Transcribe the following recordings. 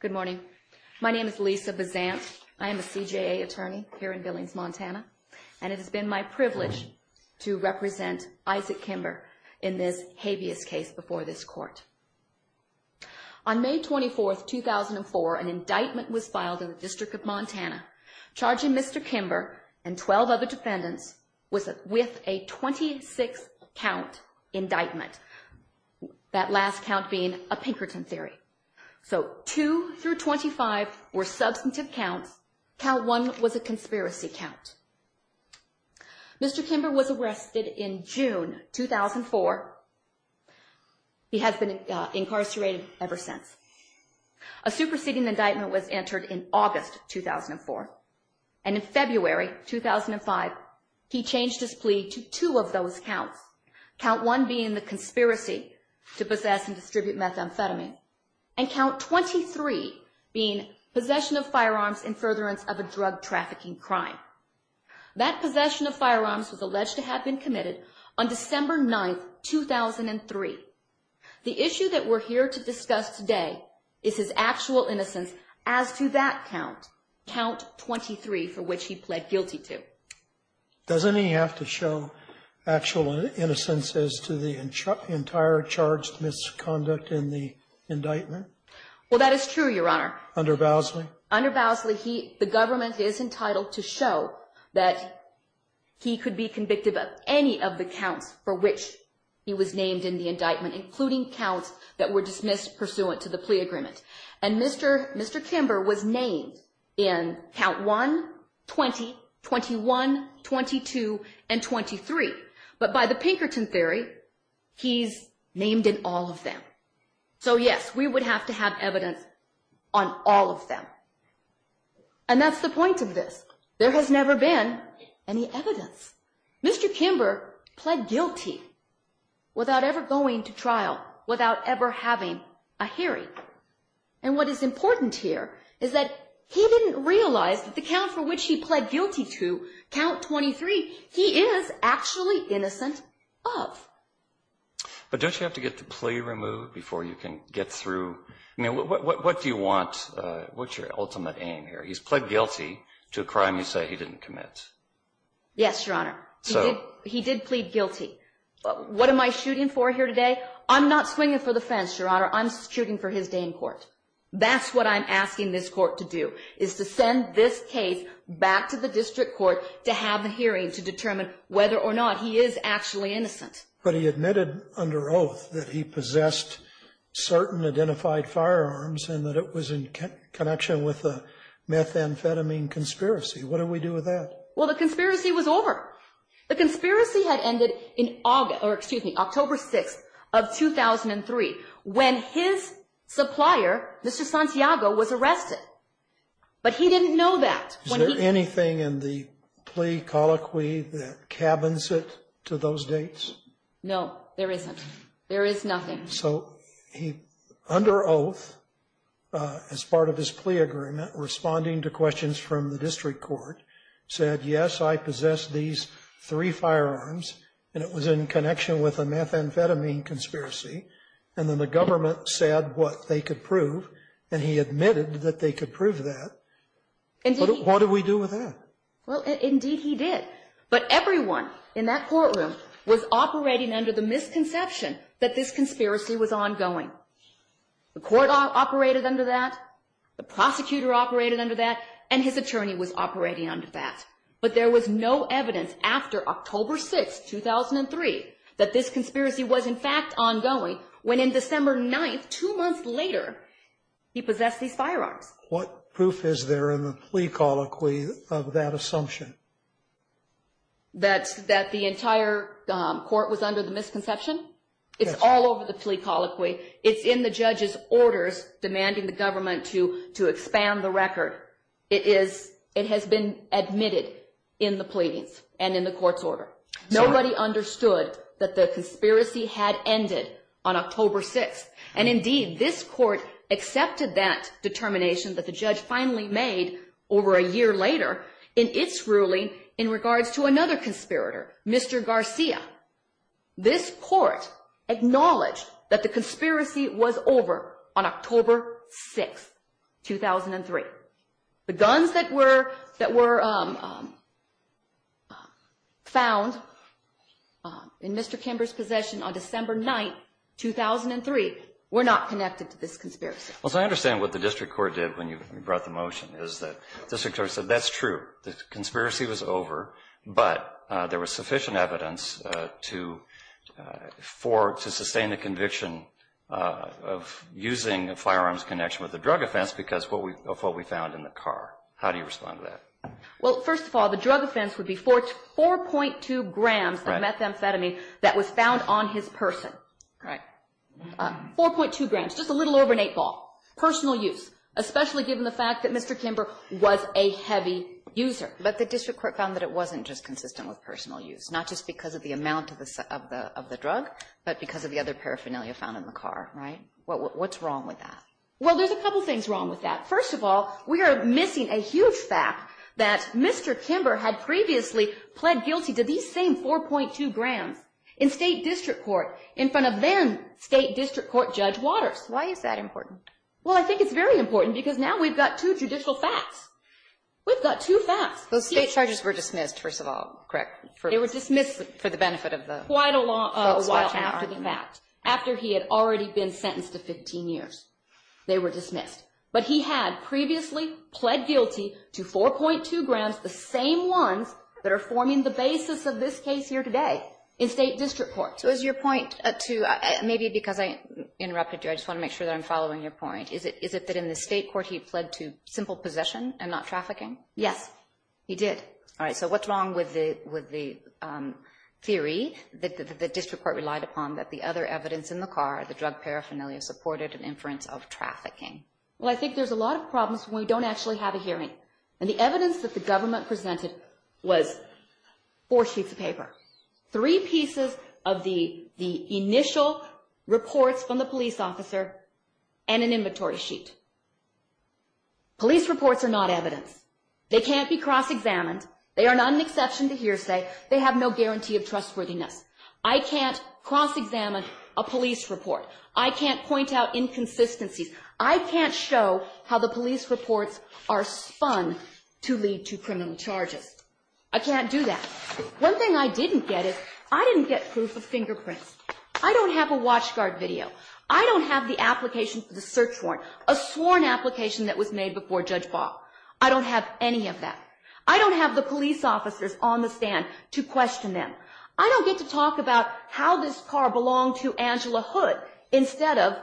Good morning. My name is Lisa Bazant. I am a CJA attorney here in Billings, Montana, and it has been my privilege to represent Isaac Kimber in this habeas case before this court. On May 24, 2004, an indictment was filed in the District of Montana charging Mr. Kimber and 12 other defendants with a 26-count indictment, that last count being a Pinkerton theory. So 2 through 25 were substantive counts. Count 1 was a conspiracy count. Mr. Kimber was arrested in June 2004. He has been incarcerated ever since. A superseding indictment was entered in August 2004. And in February 2005, he changed his plea to two of those counts. Count 1 being the conspiracy to possess and distribute methamphetamine. And count 23 being possession of firearms in furtherance of a drug trafficking crime. That possession of firearms was alleged to have been committed on December 9, 2003. The issue that we're here to discuss today is his actual innocence as to that count, count 23, for which he pled guilty to. Doesn't he have to show actual innocence as to the entire charged misconduct in the indictment? Well, that is true, Your Honor. Under Bosley? Under Bosley, the government is entitled to show that he could be convicted of any of the counts for which he was named in the indictment, including counts that were dismissed pursuant to the plea agreement. And Mr. Kimber was named in count 1, 20, 21, 22, and 23. But by the Pinkerton theory, he's named in all of them. So yes, we would have to have evidence on all of them. And that's the point of this. There has never been any evidence. Mr. Kimber pled guilty without ever going to trial, without ever having a hearing. And what is important here is that he didn't realize that the count for which he pled guilty to, count 23, he is actually innocent of. But don't you have to get the plea removed before you can get through? I mean, what do you want? What's your ultimate aim here? He's pled guilty to a crime you say he didn't commit. Yes, Your Honor. He did plead guilty. What am I shooting for here today? I'm not swinging for the fence, Your Honor. I'm shooting for his day in court. That's what I'm asking this court to do, is to send this case back to the district court to have a hearing to determine whether or not he is actually innocent. But he admitted under oath that he possessed certain identified firearms and that it was in connection with a methamphetamine conspiracy. What do we do with that? Well, the conspiracy was over. The conspiracy had ended in October 6th of 2003 when his supplier, Mr. Santiago, was arrested. But he didn't know that. Is there anything in the plea colloquy that cabins it to those dates? No, there isn't. There is nothing. So he, under oath, as part of his plea agreement, responding to questions from the district court, said, yes, I possess these three firearms, and it was in connection with a methamphetamine conspiracy. And then the government said what they could prove, and he admitted that they could prove that. What do we do with that? Well, indeed he did. But everyone in that courtroom was operating under the misconception that this conspiracy was ongoing. The court operated under that, the prosecutor operated under that, and his attorney was operating under that. But there was no evidence after October 6th, 2003, that this conspiracy was in fact ongoing, when in December 9th, two months later, he possessed these firearms. What proof is there in the plea colloquy of that assumption? That the entire court was under the misconception? It's all over the plea colloquy. It's in the judge's orders, demanding the government to expand the record. It has been admitted in the pleadings and in the court's order. Nobody understood that the conspiracy had ended on October 6th. And indeed, this court accepted that determination that the judge finally made over a year later in its ruling in regards to another conspirator, Mr. Garcia. This court acknowledged that the conspiracy was over on October 6th, 2003. The guns that were found in Mr. Kimber's possession on December 9th, 2003, were not connected to this conspiracy. Well, so I understand what the district court did when you brought the motion, is that the district court said that's true. The conspiracy was over, but there was sufficient evidence to sustain the conviction of using a firearms connection with a drug offense because of what we found in the car. How do you respond to that? Well, first of all, the drug offense would be 4.2 grams of methamphetamine that was found on his person. Right. 4.2 grams, just a little over an eight ball. Personal use. Especially given the fact that Mr. Kimber was a heavy user. But the district court found that it wasn't just consistent with personal use. Not just because of the amount of the drug, but because of the other paraphernalia found in the car, right? What's wrong with that? Well, there's a couple things wrong with that. First of all, we are missing a huge fact that Mr. Kimber had previously pled guilty to these same 4.2 grams in state district court, in front of then state district court Judge Waters. Why is that important? Well, I think it's very important because now we've got two judicial facts. We've got two facts. Those state charges were dismissed, first of all, correct? They were dismissed for the benefit of the folks watching. Quite a while after the fact. After he had already been sentenced to 15 years, they were dismissed. But he had previously pled guilty to 4.2 grams, the same ones that are forming the basis of this case here today in state district court. So is your point to, maybe because I interrupted you, I just want to make sure that I'm following your point. Is it that in the state court he pled to simple possession and not trafficking? Yes, he did. All right, so what's wrong with the theory that the district court relied upon that the other evidence in the car, the drug paraphernalia, supported an inference of trafficking? Well, I think there's a lot of problems when we don't actually have a hearing. And the evidence that the government presented was four sheets of paper. Three pieces of the initial reports from the police officer and an inventory sheet. Police reports are not evidence. They can't be cross-examined. They are not an exception to hearsay. They have no guarantee of trustworthiness. I can't cross-examine a police report. I can't point out inconsistencies. I can't show how the police reports are spun to lead to criminal charges. I can't do that. One thing I didn't get is I didn't get proof of fingerprints. I don't have a watchguard video. I don't have the application for the search warrant, a sworn application that was made before Judge Ball. I don't have any of that. I don't have the police officers on the stand to question them. I don't get to talk about how this car belonged to Angela Hood instead of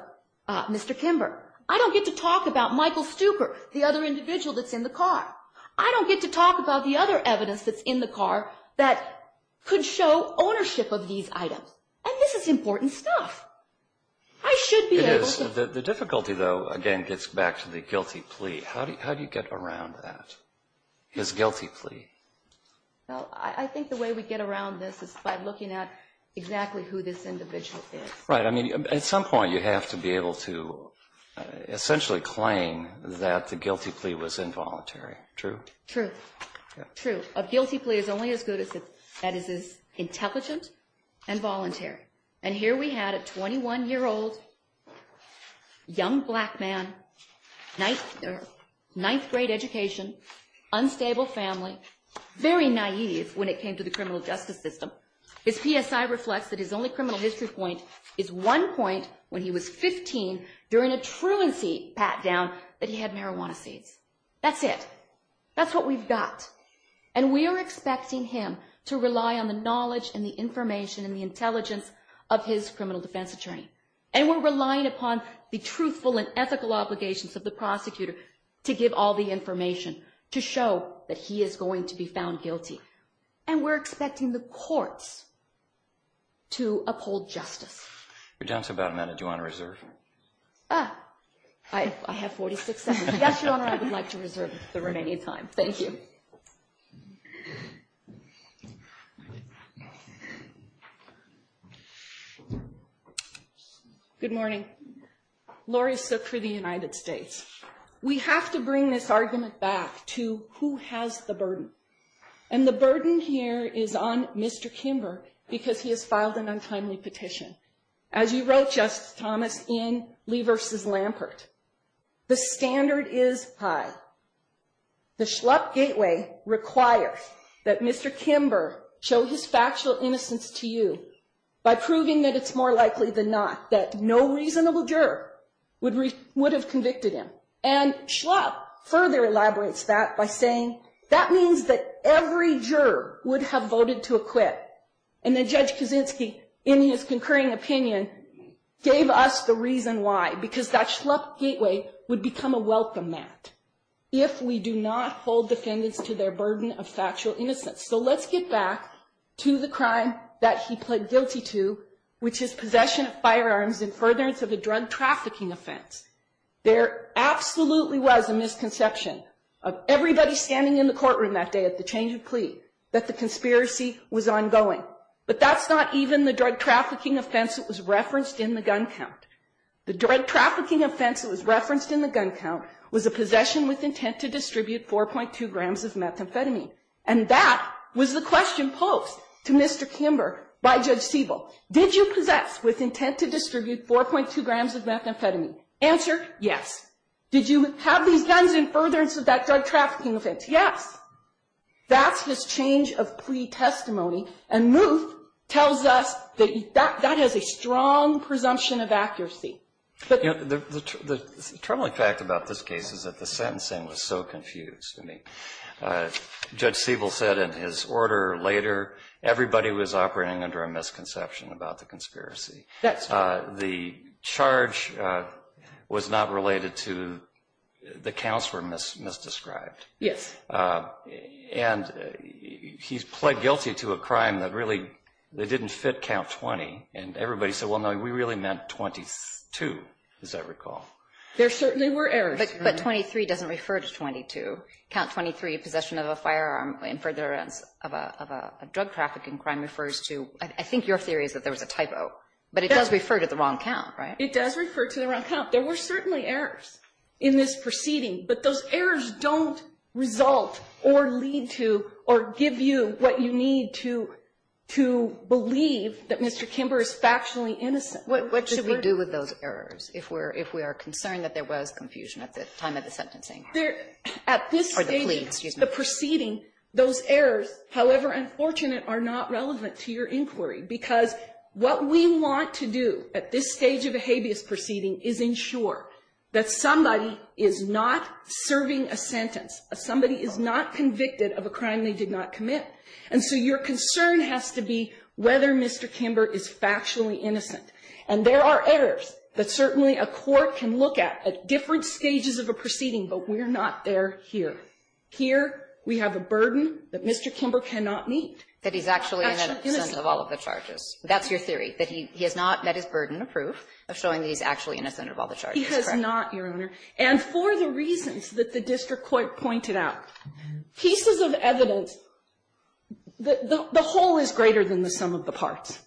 Mr. Kimber. I don't get to talk about Michael Stuecker, the other individual that's in the car. I don't get to talk about the other evidence that's in the car that could show ownership of these items. And this is important stuff. I should be able to. The difficulty, though, again, gets back to the guilty plea. How do you get around that, this guilty plea? Well, I think the way we get around this is by looking at exactly who this individual is. Right. I mean, at some point you have to be able to essentially claim that the guilty plea was involuntary. True? True. A guilty plea is only as good as it's intelligent and voluntary. And here we had a 21-year-old young black man, ninth grade education, unstable family, very naive when it came to the criminal justice system. His PSI reflects that his only criminal history point is one point when he was 15, during a truancy pat-down that he had marijuana seeds. That's it. That's what we've got. And we are expecting him to rely on the knowledge and the information and the intelligence of his criminal defense attorney. And we're relying upon the truthful and ethical obligations of the prosecutor to give all the information to show that he is going to be found guilty. And we're expecting the courts to uphold justice. Your Honor, do you want to reserve? I have 46 seconds. Yes, Your Honor, I would like to reserve the remaining time. Thank you. Good morning. Laurie Sook for the United States. We have to bring this argument back to who has the burden. And the burden here is on Mr. Kimber because he has filed an untimely petition. As you wrote, Justice Thomas, in Lee v. Lampert, the standard is high. The Schlupp gateway requires that Mr. Kimber show his factual innocence to you by proving that it's more likely than not that no reasonable juror would have convicted him. And Schlupp further elaborates that by saying that means that every juror would have voted to acquit. And then Judge Kaczynski, in his concurring opinion, gave us the reason why, because that Schlupp gateway would become a welcome mat if we do not hold defendants to their burden of factual innocence. So let's get back to the crime that he pled guilty to, which is possession of firearms in furtherance of a drug trafficking offense. There absolutely was a misconception of everybody standing in the courtroom that day at the change of plea that the conspiracy was ongoing. But that's not even the drug trafficking offense that was referenced in the gun count. The drug trafficking offense that was referenced in the gun count was a possession with intent to distribute 4.2 grams of methamphetamine. And that was the question posed to Mr. Kimber by Judge Siebel. Did you possess with intent to distribute 4.2 grams of methamphetamine? Answer, yes. Did you have these guns in furtherance of that drug trafficking offense? Yes. That's his change of plea testimony. And Muth tells us that that has a strong presumption of accuracy. The troubling fact about this case is that the sentencing was so confused. Judge Siebel said in his order later, everybody was operating under a misconception about the conspiracy. The charge was not related to the counts were misdescribed. Yes. And he's pled guilty to a crime that really didn't fit count 20. And everybody said, well, no, we really meant 22, as I recall. There certainly were errors. But 23 doesn't refer to 22. Count 23, possession of a firearm in furtherance of a drug trafficking crime, refers to, I think your theory is that there was a typo. But it does refer to the wrong count, right? It does refer to the wrong count. There were certainly errors in this proceeding. But those errors don't result or lead to or give you what you need to believe that Mr. Kimber is factually innocent. What should we do with those errors if we are concerned that there was confusion at the time of the sentencing? At this stage of the proceeding, those errors, however unfortunate, are not relevant to your inquiry. Because what we want to do at this stage of a habeas proceeding is ensure that somebody is not serving a sentence. Somebody is not convicted of a crime they did not commit. And so your concern has to be whether Mr. Kimber is factually innocent. And there are errors that certainly a court can look at, at different stages of a proceeding. But we're not there here. Here, we have a burden that Mr. Kimber cannot meet. That he's actually innocent of all of the charges. That's your theory, that he has not met his burden of proof of showing that he's actually innocent of all the charges. He has not, Your Honor. And for the reasons that the district court pointed out, pieces of evidence, the whole is greater than the sum of the parts.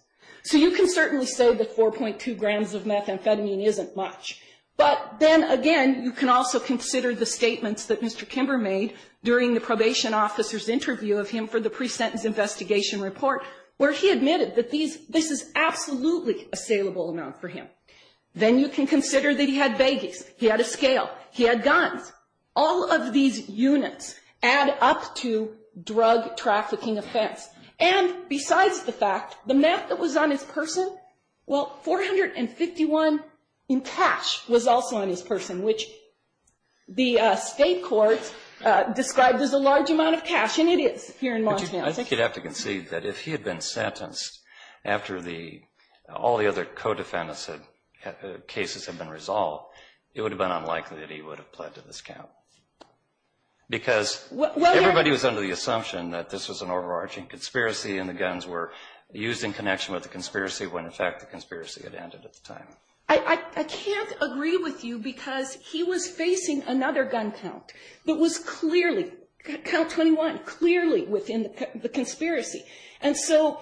So you can certainly say that 4.2 grams of methamphetamine isn't much. But then again, you can also consider the statements that Mr. Kimber made during the probation officer's interview of him for the pre-sentence investigation report where he admitted that this is absolutely a salable amount for him. Then you can consider that he had babies. He had a scale. He had guns. All of these units add up to drug trafficking offense. And besides the fact, the meth that was on his person, well, 451 in cash was also on his person, which the state courts described as a large amount of cash. And it is here in Montana. I think you'd have to concede that if he had been sentenced after all the other defendants' cases had been resolved, it would have been unlikely that he would have pled to this count. Because everybody was under the assumption that this was an overarching conspiracy and the guns were used in connection with the conspiracy when, in fact, the conspiracy had ended at the time. I can't agree with you because he was facing another gun count that was clearly, count 21, clearly within the conspiracy. And so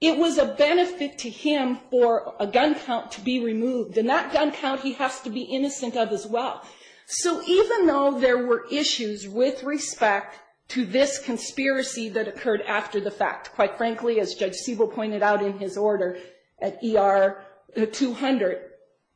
it was a benefit to him for a gun count to be removed. And that gun count he has to be innocent of as well. So even though there were issues with respect to this conspiracy that occurred after the fact, quite frankly, as Judge Siebel pointed out in his order at ER 200,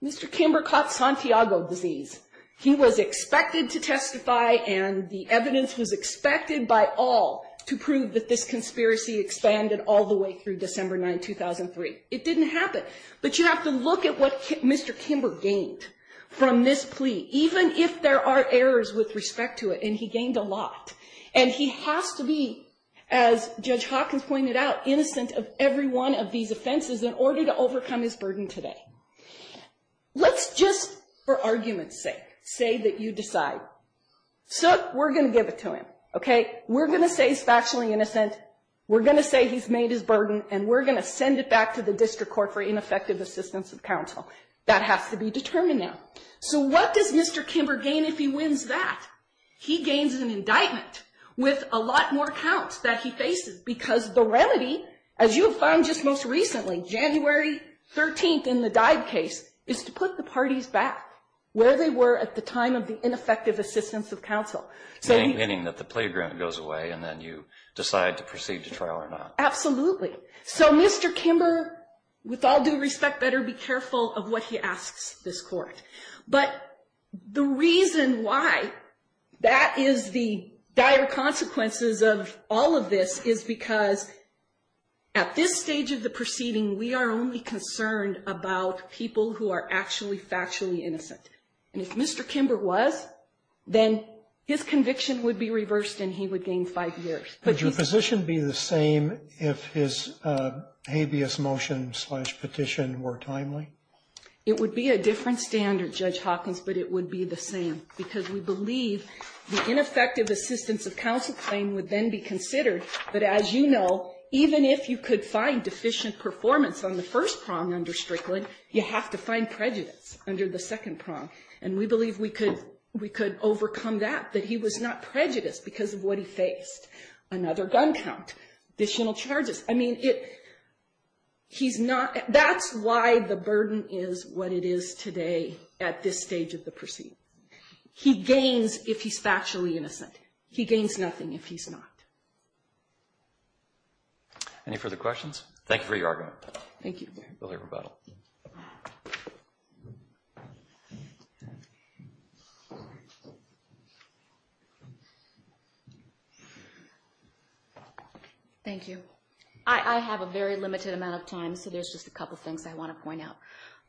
Mr. Kimber caught Santiago disease. He was expected to testify and the evidence was expected by all to prove that this conspiracy expanded all the way through December 9, 2003. It didn't happen. But you have to look at what Mr. Kimber gained from this plea, even if there are errors with respect to it. And he gained a lot. And he has to be, as Judge Hawkins pointed out, innocent of every one of these offenses in order to overcome his burden today. Let's just, for argument's sake, say that you decide. So we're going to give it to him. Okay? We're going to say he's factually innocent. We're going to say he's made his burden. And we're going to send it back to the district court for ineffective assistance of counsel. That has to be determined now. So what does Mr. Kimber gain if he wins that? He gains an indictment with a lot more counts that he faces because the remedy, as you have found just most recently, January 13th in the Dive case, is to put the parties back where they were at the time of the ineffective assistance of counsel. Meaning that the plea agreement goes away and then you decide to proceed to trial or not. Absolutely. So Mr. Kimber, with all due respect, better be careful of what he asks this court. But the reason why that is the dire consequences of all of this is because at this stage of the proceeding, we are only concerned about people who are actually factually innocent. And if Mr. Kimber was, then his conviction would be reversed and he would gain five years. Would your position be the same if his habeas motion-slash-petition were timely? It would be a different standard, Judge Hawkins, but it would be the same because we believe the ineffective assistance of counsel claim would then be considered. But as you know, even if you could find deficient performance on the first prong under Strickland, you have to find prejudice under the second prong. And we believe we could overcome that, that he was not prejudiced because of what he faced. Another gun count, additional charges. I mean, that's why the burden is what it is today at this stage of the proceeding. He gains if he's factually innocent. He gains nothing if he's not. Any further questions? Thank you for your argument. Thank you. We'll hear rebuttal. Thank you. I have a very limited amount of time, so there's just a couple things I want to point out.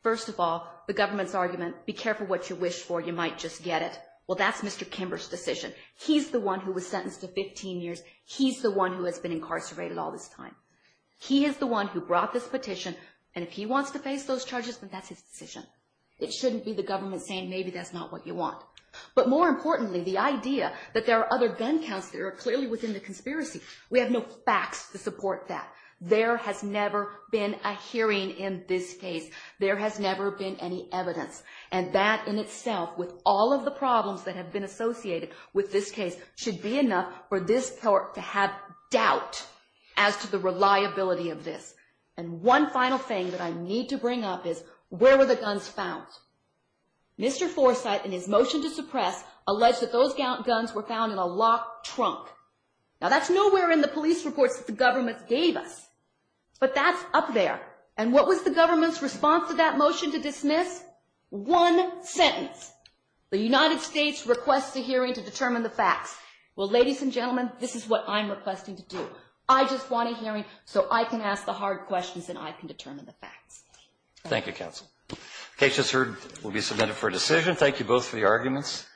First of all, the government's argument, be careful what you wish for, you might just get it. Well, that's Mr. Kimber's decision. He's the one who was sentenced to 15 years. He's the one who has been incarcerated all this time. He is the one who brought this petition, and if he wants to face those charges, then that's his decision. It shouldn't be the government saying, maybe that's not what you want. But more importantly, the idea that there are other gun counts that are clearly within the conspiracy, we have no facts to support that. There has never been a hearing in this case. There has never been any evidence. And that in itself, with all of the problems that have been associated with this case, should be enough for this court to have doubt as to the reliability of this. And one final thing that I need to bring up is, where were the guns found? Mr. Forsythe, in his motion to suppress, alleged that those guns were found in a locked trunk. Now, that's nowhere in the police reports that the government gave us. But that's up there. And what was the government's response to that motion to dismiss? One sentence. The United States requests a hearing to determine the facts. Well, ladies and gentlemen, this is what I'm requesting to do. I just want a hearing so I can ask the hard questions and I can determine the facts. Thank you, counsel. The case, as heard, will be submitted for a decision. Thank you both for your arguments.